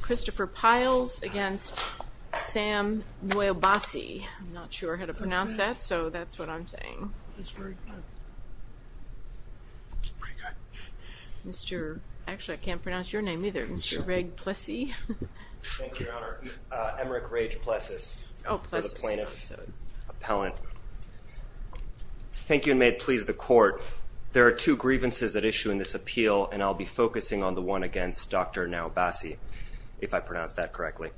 Christopher Pyles v. Sam Nwaobasi Nwaobasi, I'm not sure how to pronounce that so that's what I'm saying, Mr. actually I can't pronounce your name either, Mr. Reg Plessy. Thank you Your Honor, Emmerich Rage Plessis, the plaintiff's appellant. Thank you and may it please the court, there are two grievances at issue in this appeal and I'll be focusing on the one against Dr. Nwaobasi if I pronounce that correctly.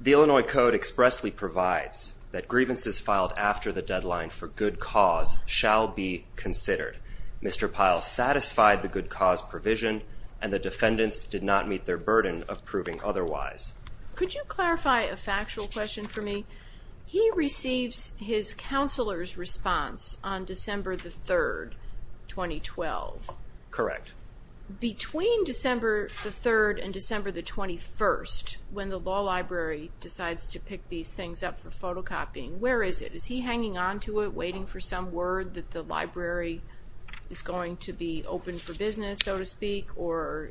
The Illinois Code expressly provides that grievances filed after the deadline for good cause shall be considered. Mr. Pyles satisfied the good cause provision and the defendants did not meet their burden of proving otherwise. Could you clarify a factual question for me? He receives his counselor's response on December the 3rd, 2012. Correct. Between December the 3rd and December the 21st, when the law library decides to pick these things up for photocopying, where is it? Is he hanging on to it waiting for some word that the library is going to be open for business so to speak or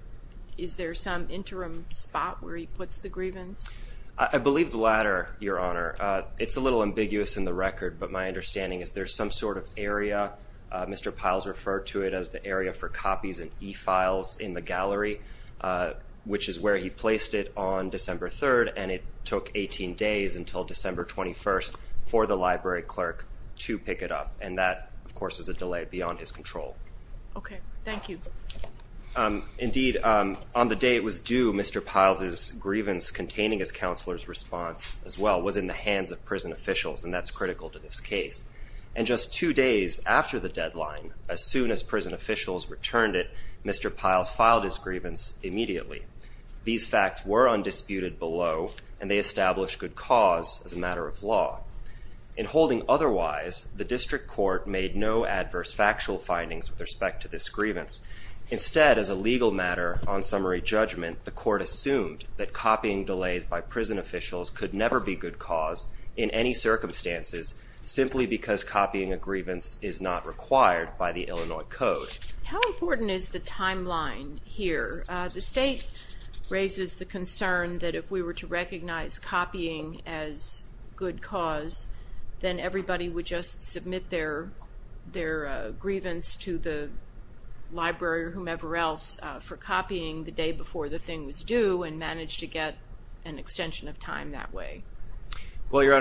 is there some interim spot where he puts the grievance? I believe the latter, Your Honor. It's a little ambiguous in the record but my understanding is there's some sort of area, Mr. Pyles referred to it as the area for copies and e-files in the gallery, which is where he placed it on December 3rd and it took 18 days until December 21st for the library clerk to pick it up and that of course is a delay beyond his control. Okay, thank you. Indeed, on the day it was due, Mr. Pyles' grievance containing his counselor's response as well was in the hands of prison officials and that's critical to this case. And just two days after the deadline, as soon as prison officials returned it, Mr. Pyles filed his grievance immediately. These facts were undisputed below and they established good cause as a matter of law. In holding otherwise, the district court made no adverse factual findings with respect to this grievance. Instead, as a legal matter on summary judgment, the court assumed that copying delays by prison officials could never be good cause in any circumstances simply because copying a grievance is not required by the Illinois Code. How important is the timeline here? The state raises the concern that if we were to recognize copying as good cause, then everybody would just submit their grievance to the library or whomever else for copying the day before the thing was due and manage to get an extension of time that way. Well, Your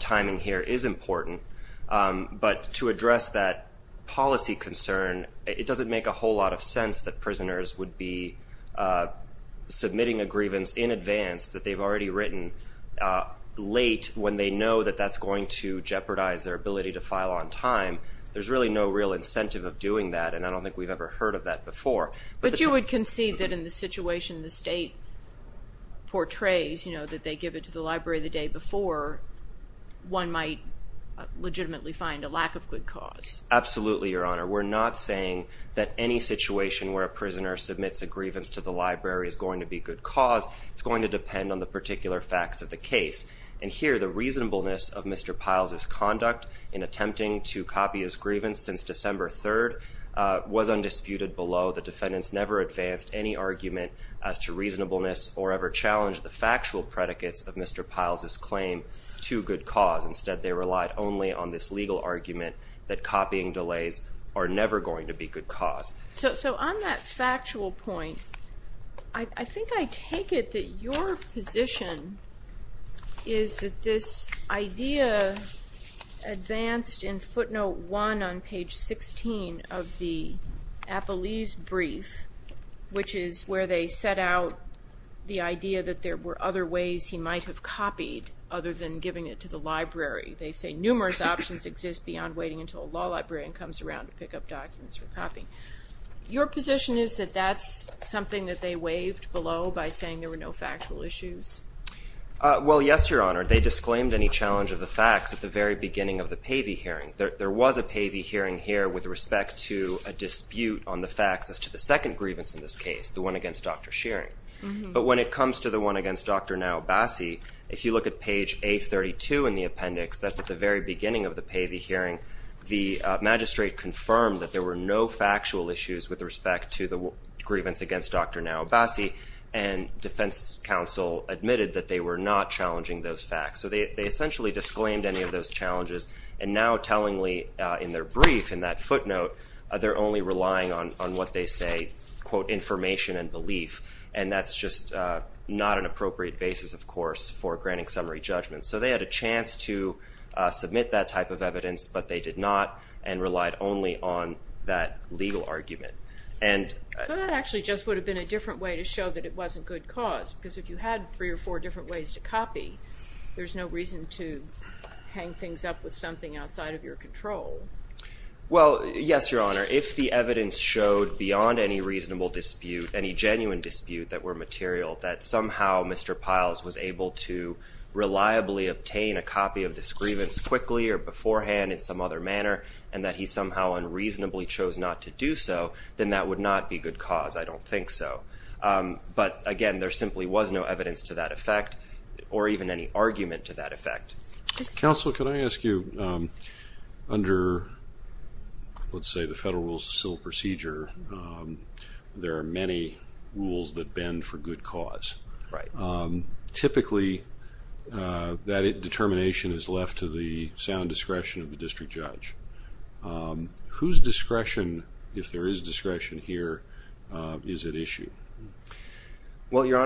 timing here is important, but to address that policy concern, it doesn't make a whole lot of sense that prisoners would be submitting a grievance in advance that they've already written late when they know that that's going to jeopardize their ability to file on time. There's really no real incentive of doing that and I don't think we've ever heard of that before. But you would concede that in the situation the state portrays, you know, that they give it to the library the day before, one might legitimately find a lack of good cause. Absolutely, Your Honor. We're not saying that any situation where a prisoner submits a grievance to the library is going to be good cause. It's going to depend on the particular facts of the case. And here, the reasonableness of Mr. Piles' conduct in attempting to copy his grievance since December 3rd was undisputed below. The defendants never advanced any argument as to reasonableness or ever challenged the factual predicates of Mr. Piles' claim to good cause. Instead, they relied only on this legal argument that copying delays are never going to be good cause. So on that factual point, I think I take it that your position is that this idea advanced in footnote 1 on page 16 of the Appelese brief, which is where they set out the idea that there were other ways he might have copied other than giving it to the library. They say numerous options exist beyond waiting until a law librarian comes around to pick up documents for copying. Your position is that that's something that they waived below by saying there were no factual issues? Well, yes, Your Honor. They disclaimed any challenge of the facts at the very beginning of the Pavey hearing. There was a Pavey hearing here with respect to a dispute on the facts as to the second grievance in this case, the one against Dr. Shearing. But when it comes to the one against Dr. Naobasi, if you look at page 832 in the appendix, that's at the very beginning of the Pavey hearing, the magistrate confirmed that there were no factual issues with respect to the grievance against Dr. Naobasi, and defense counsel admitted that they were not challenging those facts. So they essentially disclaimed any of those challenges, and now tellingly in their brief, in that footnote, they're only relying on what they say, quote, information and belief, and that's just not an appropriate basis, of course, for granting summary judgment. So they had a chance to submit that type of evidence, but they did not, and relied only on that legal argument. So that actually just would have been a different way to show that it wasn't good cause, because if you had three or four different ways to copy, there's no reason to hang things up with something outside of your control. Well, yes, your honor, if the evidence showed beyond any reasonable dispute, any genuine dispute that were material, that somehow Mr. Piles was able to reliably obtain a copy of this grievance quickly or beforehand in some other manner, and that he somehow unreasonably chose not to do so, then that would not be good cause. I don't think so. But again, there simply was no evidence to that effect, or even any argument to that effect. Counsel, can I ask you, under, let's say, the Federal Rules of Civil Procedure, there are many rules that bend for good cause. Right. Typically, that determination is left to the sound discretion of the district judge. Whose discretion, if there is discretion here, is at issue? Well, your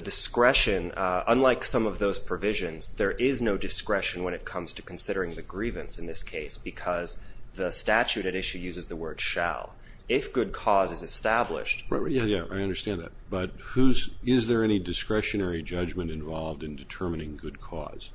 discretion, unlike some of those provisions, there is no discretion when it comes to considering the grievance in this case, because the statute at issue uses the word shall. If good cause is established. Yeah, I understand that. But who's, is there any discretionary judgment involved in determining good cause?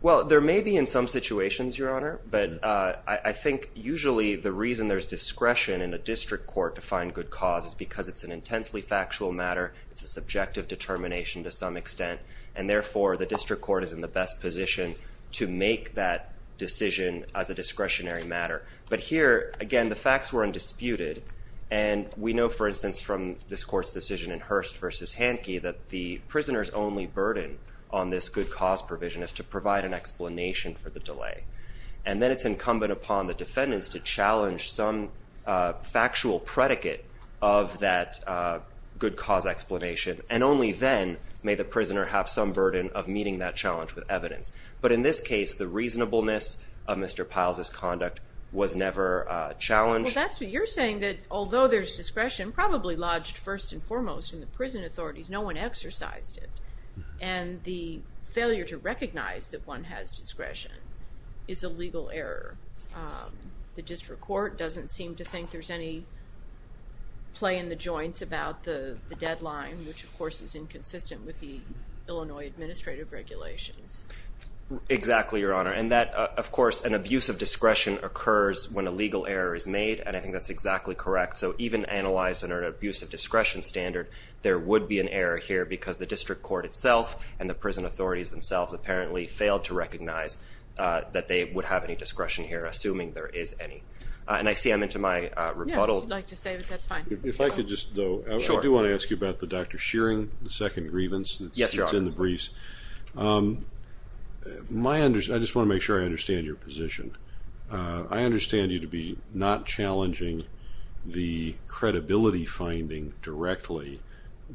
Well, there may be in some situations, your honor, but I think usually the reason there's discretion in a district court to find good cause is because it's an intensely factual matter, it's a subjective determination to some extent, and therefore the district court is in the best position to make that decision as a discretionary matter. But here, again, the facts were undisputed, and we know, for instance, from this court's decision in Hurst versus Hanke, that the prisoner's only burden on this good cause provision is to provide an explanation for the delay. And then it's incumbent upon the prisoner to provide that good cause explanation, and only then may the prisoner have some burden of meeting that challenge with evidence. But in this case, the reasonableness of Mr. Piles' conduct was never challenged. Well, that's what you're saying, that although there's discretion, probably lodged first and foremost in the prison authorities, no one exercised it. And the failure to recognize that one has discretion is a legal error. The district court doesn't seem to think there's any play in the joints about the deadline, which of course is inconsistent with the Illinois Administrative Regulations. Exactly, Your Honor. And that, of course, an abuse of discretion occurs when a legal error is made, and I think that's exactly correct. So even analyzed under an abuse of discretion standard, there would be an error here because the district court itself and the prison authorities themselves apparently failed to recognize that they would have any discretion here, assuming there is any. And I see I'm into my rebuttal. Yeah, if you'd like to say that, that's fine. If I could just, though, I do want to ask you about the Dr. Shearing, the second grievance. Yes, Your Honor. It's in the briefs. I just want to make sure I understand your position. I understand you to be not challenging the credibility finding directly,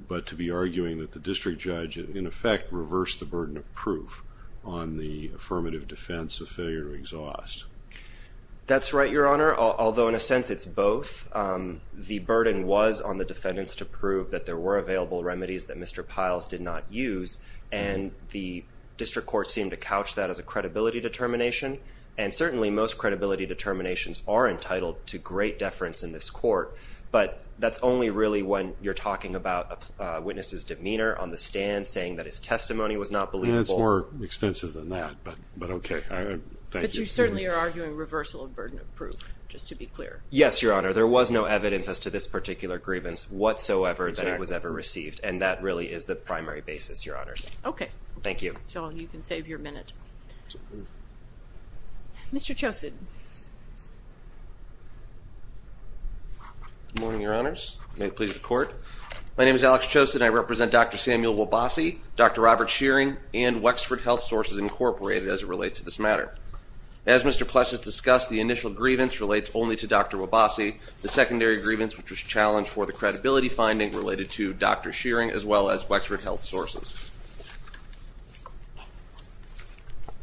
but to be arguing that the district judge in effect reversed the burden of proof on the affirmative defense of failure to exhaust. That's right, Your Honor, although in a sense it's both. The burden was on the defendants to prove that there were available remedies that Mr. Piles did not use, and the district court seemed to couch that as a credibility determination, and certainly most credibility determinations are entitled to great deference in this court, but that's only really when you're talking about a witness's demeanor on the stand saying that his testimony was not believable. It's more extensive than that, but okay. But you certainly are arguing reversal of the burden of proof, just to be clear. Yes, Your Honor. There was no evidence as to this particular grievance whatsoever that it was ever received, and that really is the primary basis, Your Honors. Okay. Thank you. So you can save your minute. Mr. Chosin. Good morning, Your Honors. May it please the Court. My name is Alex Chosin. I represent Dr. Samuel Wabasi, Dr. Robert Shearing, and Wexford Health Sources Incorporated as it relates to this matter. As Mr. Plessis discussed, the initial grievance relates only to Dr. Wabasi. The secondary grievance, which was challenged for the credibility finding, related to Dr. Shearing as well as Wexford Health Sources.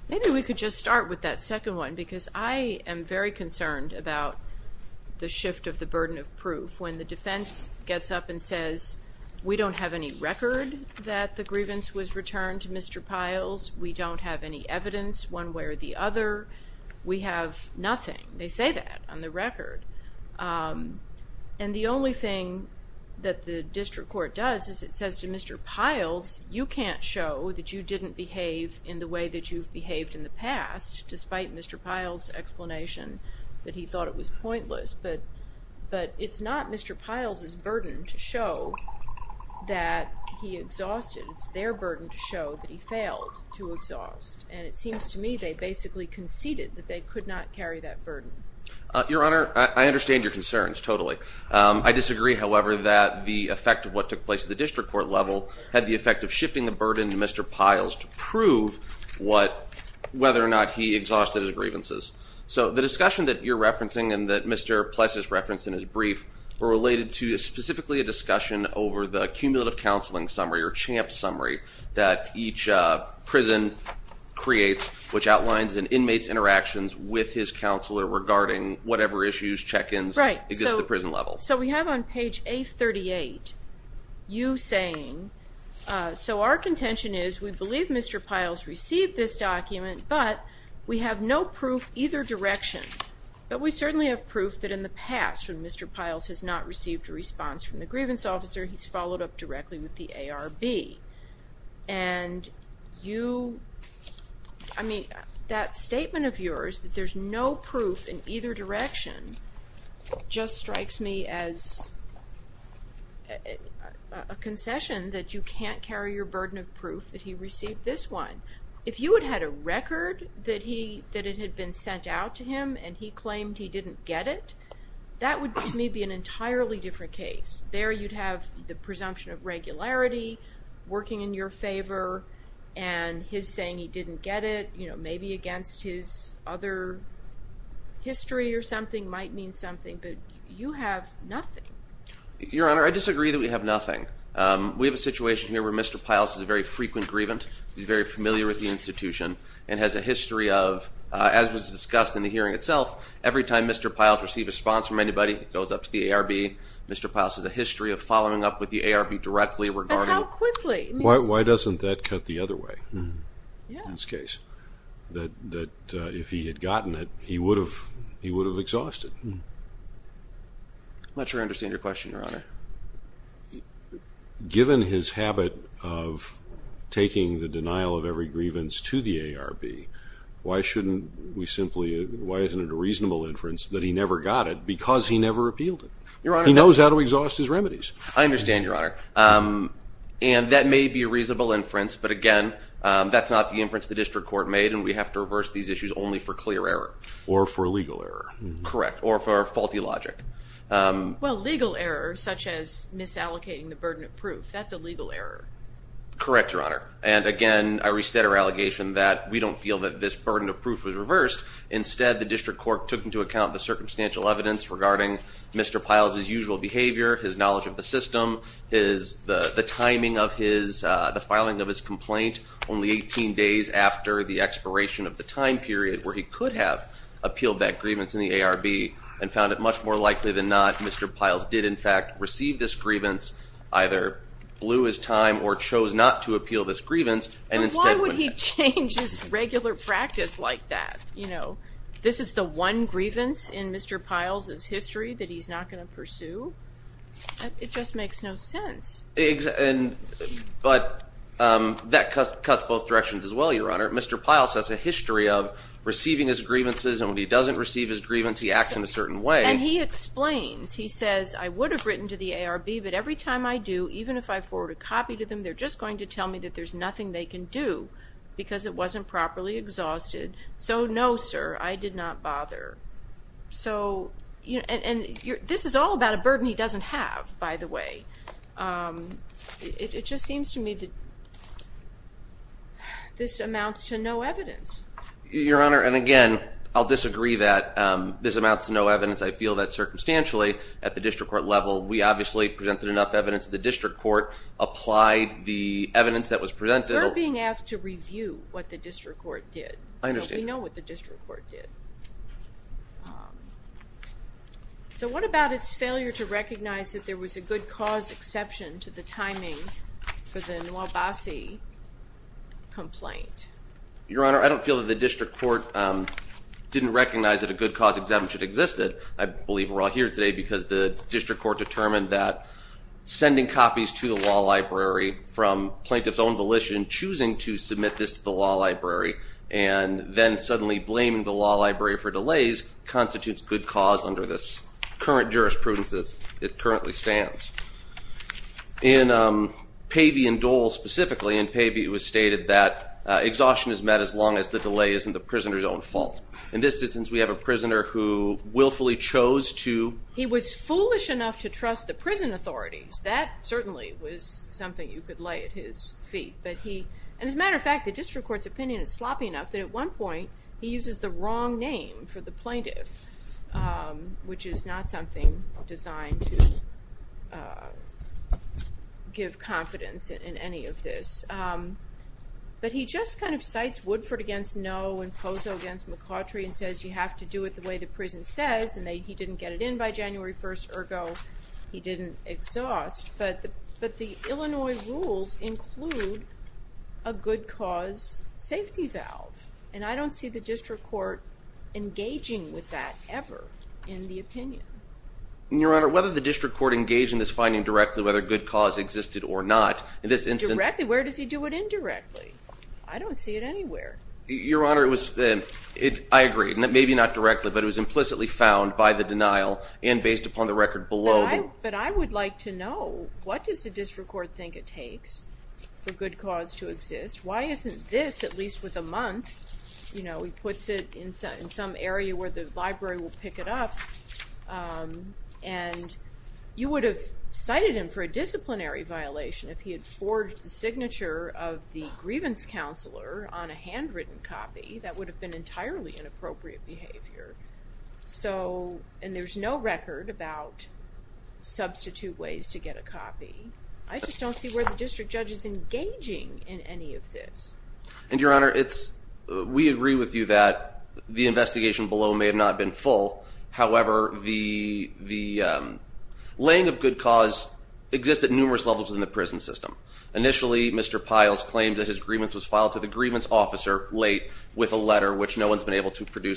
Maybe we could just start with that second one, because I am very concerned about the shift of the burden of proof. When the defense gets up and says, we don't have any record that the grievance was returned to Mr. Pyles, we don't have any evidence one way or the other, we have nothing. They say that on the record, and the only thing that the district court does is it says to Mr. Pyles, you can't show that you didn't behave in the way that you've behaved in the past, despite Mr. Pyle's explanation that he thought it was pointless, but it's not Mr. Pyle's burden to show that he exhausted. It's their burden to show that he failed to exhaust, and it seems to me they basically conceded that they could not carry that burden. Your Honor, I understand your concerns, totally. I disagree, however, that the effect of what took place at the district court level had the effect of shifting the burden to Mr. Pyles to prove whether or not he exhausted his grievances. So the discussion that you're referencing and that Mr. Plessis referenced in his brief were related to specifically a discussion over the each prison creates, which outlines an inmate's interactions with his counselor regarding whatever issues, check-ins, exist at the prison level. Right, so we have on page 838, you saying, so our contention is we believe Mr. Pyle's received this document, but we have no proof either direction, but we certainly have proof that in the past when Mr. Pyle's has not received a response from the grievance officer, he's followed up directly with the ARB, and you, I mean, that statement of yours that there's no proof in either direction just strikes me as a concession that you can't carry your burden of proof that he received this one. If you had had a record that he, that it had been sent out to him and he claimed he didn't get it, that would to me be an entirely different case. There you'd have the presumption of regularity, working in your favor, and his saying he didn't get it, you know, maybe against his other history or something might mean something, but you have nothing. Your Honor, I disagree that we have nothing. We have a situation here where Mr. Pyle's is a very frequent grievance. He's very familiar with the institution and has a history of, as was discussed in the hearing itself, every time Mr. Pyle's received a response from following up with the ARB directly regarding... And how quickly? Why doesn't that cut the other way in this case? That if he had gotten it, he would have, he would have exhausted. I'm not sure I understand your question, Your Honor. Given his habit of taking the denial of every grievance to the ARB, why shouldn't we simply, why isn't it a reasonable inference that he never got it because he never appealed it? Your Honor... He knows how to exhaust his remedies. I understand, Your Honor, and that may be a reasonable inference, but again, that's not the inference the district court made and we have to reverse these issues only for clear error. Or for legal error. Correct, or for faulty logic. Well, legal error, such as misallocating the burden of proof, that's a legal error. Correct, Your Honor, and again, I restate our allegation that we don't feel that this burden of proof was reversed. Instead, the district court took into account the circumstantial evidence regarding Mr. Piles's usual behavior, his knowledge of the system, his, the timing of his, the filing of his complaint only 18 days after the expiration of the time period where he could have appealed that grievance in the ARB and found it much more likely than not Mr. Piles did, in fact, receive this grievance, either blew his time or chose not to appeal this grievance and instead... Why would he change his regular practice like that? You know, this is the one grievance in Mr. Piles's history that he's not going to pursue. It just makes no sense. Exactly, but that cuts both directions as well, Your Honor. Mr. Piles has a history of receiving his grievances and when he doesn't receive his grievance, he acts in a certain way. And he explains, he says, I would have written to the ARB but every time I do, even if I forward a copy to them, they're just going to tell me that there's nothing they can do because it wasn't properly exhausted. So, no sir, I did not bother. So, you know, and this is all about a burden he doesn't have, by the way. It just seems to me that this amounts to no evidence. Your Honor, and again, I'll disagree that this amounts to no evidence. I feel that circumstantially at the district court level, we obviously presented enough evidence. The district court applied the evidence that the district court did. I understand. We know what the district court did. So, what about its failure to recognize that there was a good cause exception to the timing for the Nwabasi complaint? Your Honor, I don't feel that the district court didn't recognize that a good cause exemption existed. I believe we're all here today because the district court determined that sending copies to the law library from plaintiff's own volition, choosing to submit this to the law library, and then suddenly blaming the law library for delays constitutes good cause under this current jurisprudence as it currently stands. In Pavey and Dole specifically, in Pavey it was stated that exhaustion is met as long as the delay isn't the prisoner's own fault. In this instance, we have a prisoner who willfully chose to... He was foolish enough to trust the prison authorities. That certainly was something you could lay at his feet, but he... And as a matter of fact, the district court's opinion is sloppy enough that at one point he uses the wrong name for the plaintiff, which is not something designed to give confidence in any of this. But he just kind of cites Woodford against Noe and Pozo against McCautry and says you have to do it the way the prison says, and he didn't get it in by January 1st, ergo he didn't exhaust. But the Illinois rules include a good cause safety valve, and I don't see the district court engaging with that ever in the opinion. Your Honor, whether the district court engaged in this finding directly, whether good cause existed or not, in this instance... Directly? Where does he do it indirectly? I don't see it anywhere. Your Honor, it was... I agree. Maybe not directly, but it was implicitly found by the denial and based upon the record below. But I would like to know what does the district court think it takes for good cause to exist? Why isn't this, at least with a month, you know, he puts it in some area where the library will pick it up, and you would have cited him for a disciplinary violation if he had forged the signature of the grievance counselor on a handwritten copy. That would have been entirely inappropriate behavior. So, and there's no record about substitute ways to get a copy. I just don't see where the district judge is engaging in any of this. And Your Honor, it's... we agree with you that the investigation below may have not been full. However, the laying of good cause exists at numerous levels in the prison system. Initially, Mr. Piles claimed that his grievance was filed to the produce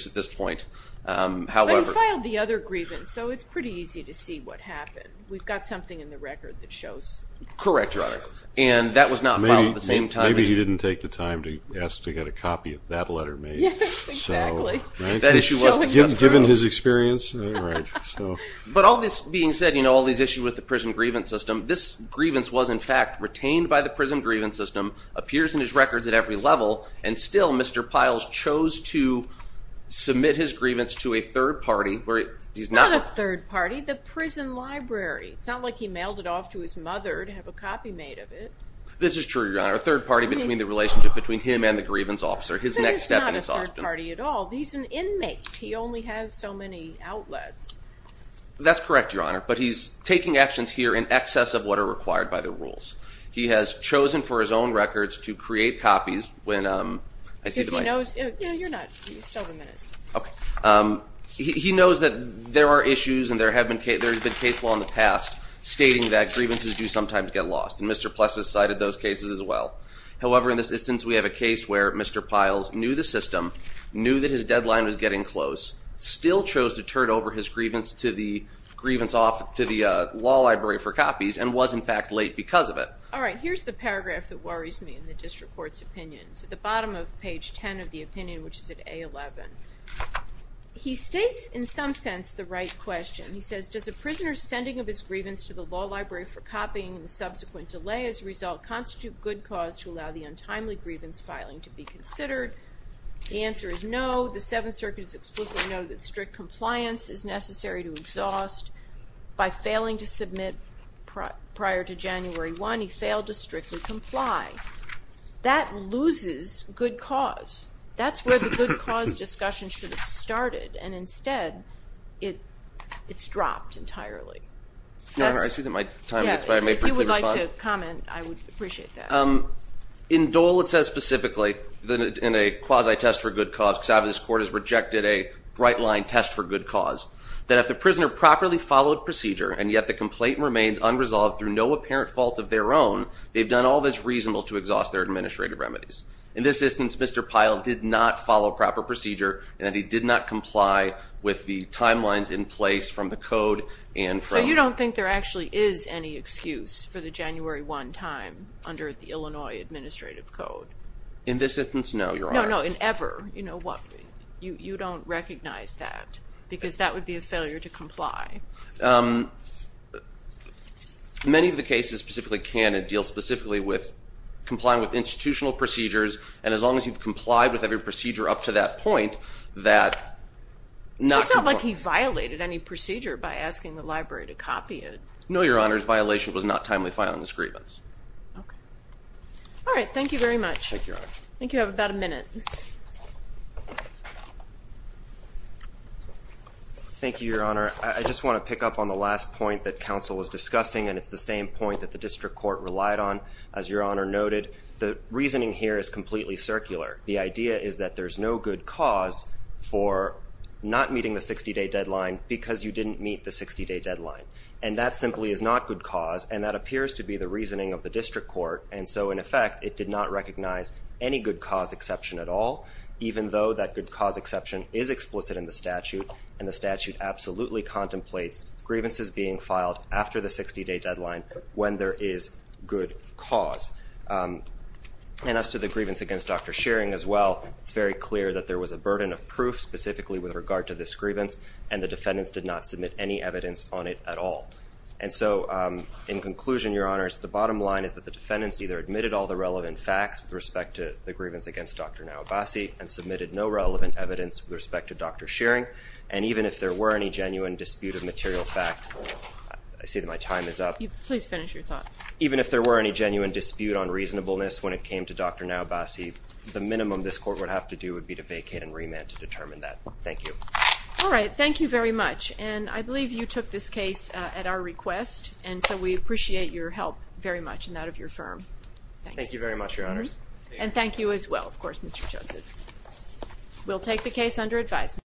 at this point. However... But he filed the other grievance, so it's pretty easy to see what happened. We've got something in the record that shows. Correct, Your Honor. And that was not filed at the same time. Maybe he didn't take the time to ask to get a copy of that letter made. Yes, exactly. That issue wasn't given his experience. But all this being said, you know, all these issues with the prison grievance system, this grievance was, in fact, retained by the prison grievance system, appears in his records at every level. And still, Mr. Piles chose to submit his grievance to a third party, where he's not... Not a third party, the prison library. It's not like he mailed it off to his mother to have a copy made of it. This is true, Your Honor. A third party between the relationship between him and the grievance officer. His next step in his... But he's not a third party at all. He's an inmate. He only has so many outlets. That's correct, Your Honor. But he's taking actions here in excess of what are required by the rules. He has chosen for his own records to create copies when... Because he knows... You're not... You still have a minute. Okay. He knows that there are issues and there have been case... There has been case law in the past stating that grievances do sometimes get lost. And Mr. Plessis cited those cases as well. However, in this instance, we have a case where Mr. Piles knew the system, knew that his deadline was getting close, still chose to turn over his grievance to the... Grievance off to the law library for copies and was in fact late because of it. All right. Here's the paragraph that worries me in the district court's opinions. At the bottom of page 10 of the opinion, which is at A11, he states in some sense the right question. He says, does a prisoner's sending of his grievance to the law library for copying and subsequent delay as a result constitute good cause to allow the untimely grievance filing to be considered? The answer is no. The Seventh by failing to submit prior to January 1, he failed to strictly comply. That loses good cause. That's where the good cause discussion should have started and instead it's dropped entirely. I see that my time... If you would like to comment, I would appreciate that. In Dole, it says specifically that in a quasi test for good cause, because obviously this court has rejected a bright line test for good cause, that if the prisoner properly followed procedure and yet the complaint remains unresolved through no apparent fault of their own, they've done all that's reasonable to exhaust their administrative remedies. In this instance, Mr. Pyle did not follow proper procedure and that he did not comply with the timelines in place from the code and... So you don't think there actually is any excuse for the January 1 time under the Illinois Administrative Code? In this instance, no, Your Honor. No, no, in ever. You know what? You don't recognize that because that would be a failure to comply. Many of the cases specifically can and deal specifically with complying with institutional procedures and as long as you've complied with every procedure up to that point, that... It's not like he violated any procedure by asking the library to copy it. No, Your Honor, his violation was not timely filing this grievance. All right, thank you very much. Thank you, Your Honor. I think you have about a minute. Thank you, Your Honor. I just want to pick up on the last point that counsel was discussing and it's the same point that the district court relied on. As Your Honor noted, the reasoning here is completely circular. The idea is that there's no good cause for not meeting the 60-day deadline because you didn't meet the 60-day deadline and that simply is not good cause and that appears to be the reasoning of the district court and so in effect it did not recognize any good cause exception at all even though that good cause exception is explicit in the statute and the statute absolutely contemplates grievances being filed after the 60-day deadline when there is good cause. And as to the grievance against Dr. Shearing as well, it's very clear that there was a burden of proof specifically with regard to this grievance and the defendants did not submit any evidence on it at all. And so in conclusion, Your Honors, the bottom line is that the defendants either admitted all the relevant facts with respect to the grievance against Dr. Nawabassi and submitted no relevant evidence with respect to Dr. Shearing and even if there were any genuine dispute of material fact, I see that my time is up. Please finish your thought. Even if there were any genuine dispute on reasonableness when it came to Dr. Nawabassi, the minimum this court would have to do would be to vacate and remand to determine that. Thank you. All right. Thank you very much. And I believe you took this case at our request and so we appreciate your help very much in that of your firm. Thank you very much, Your Honors. And thank you as well, of course, Mr. Joseph. We'll take the case under advisement.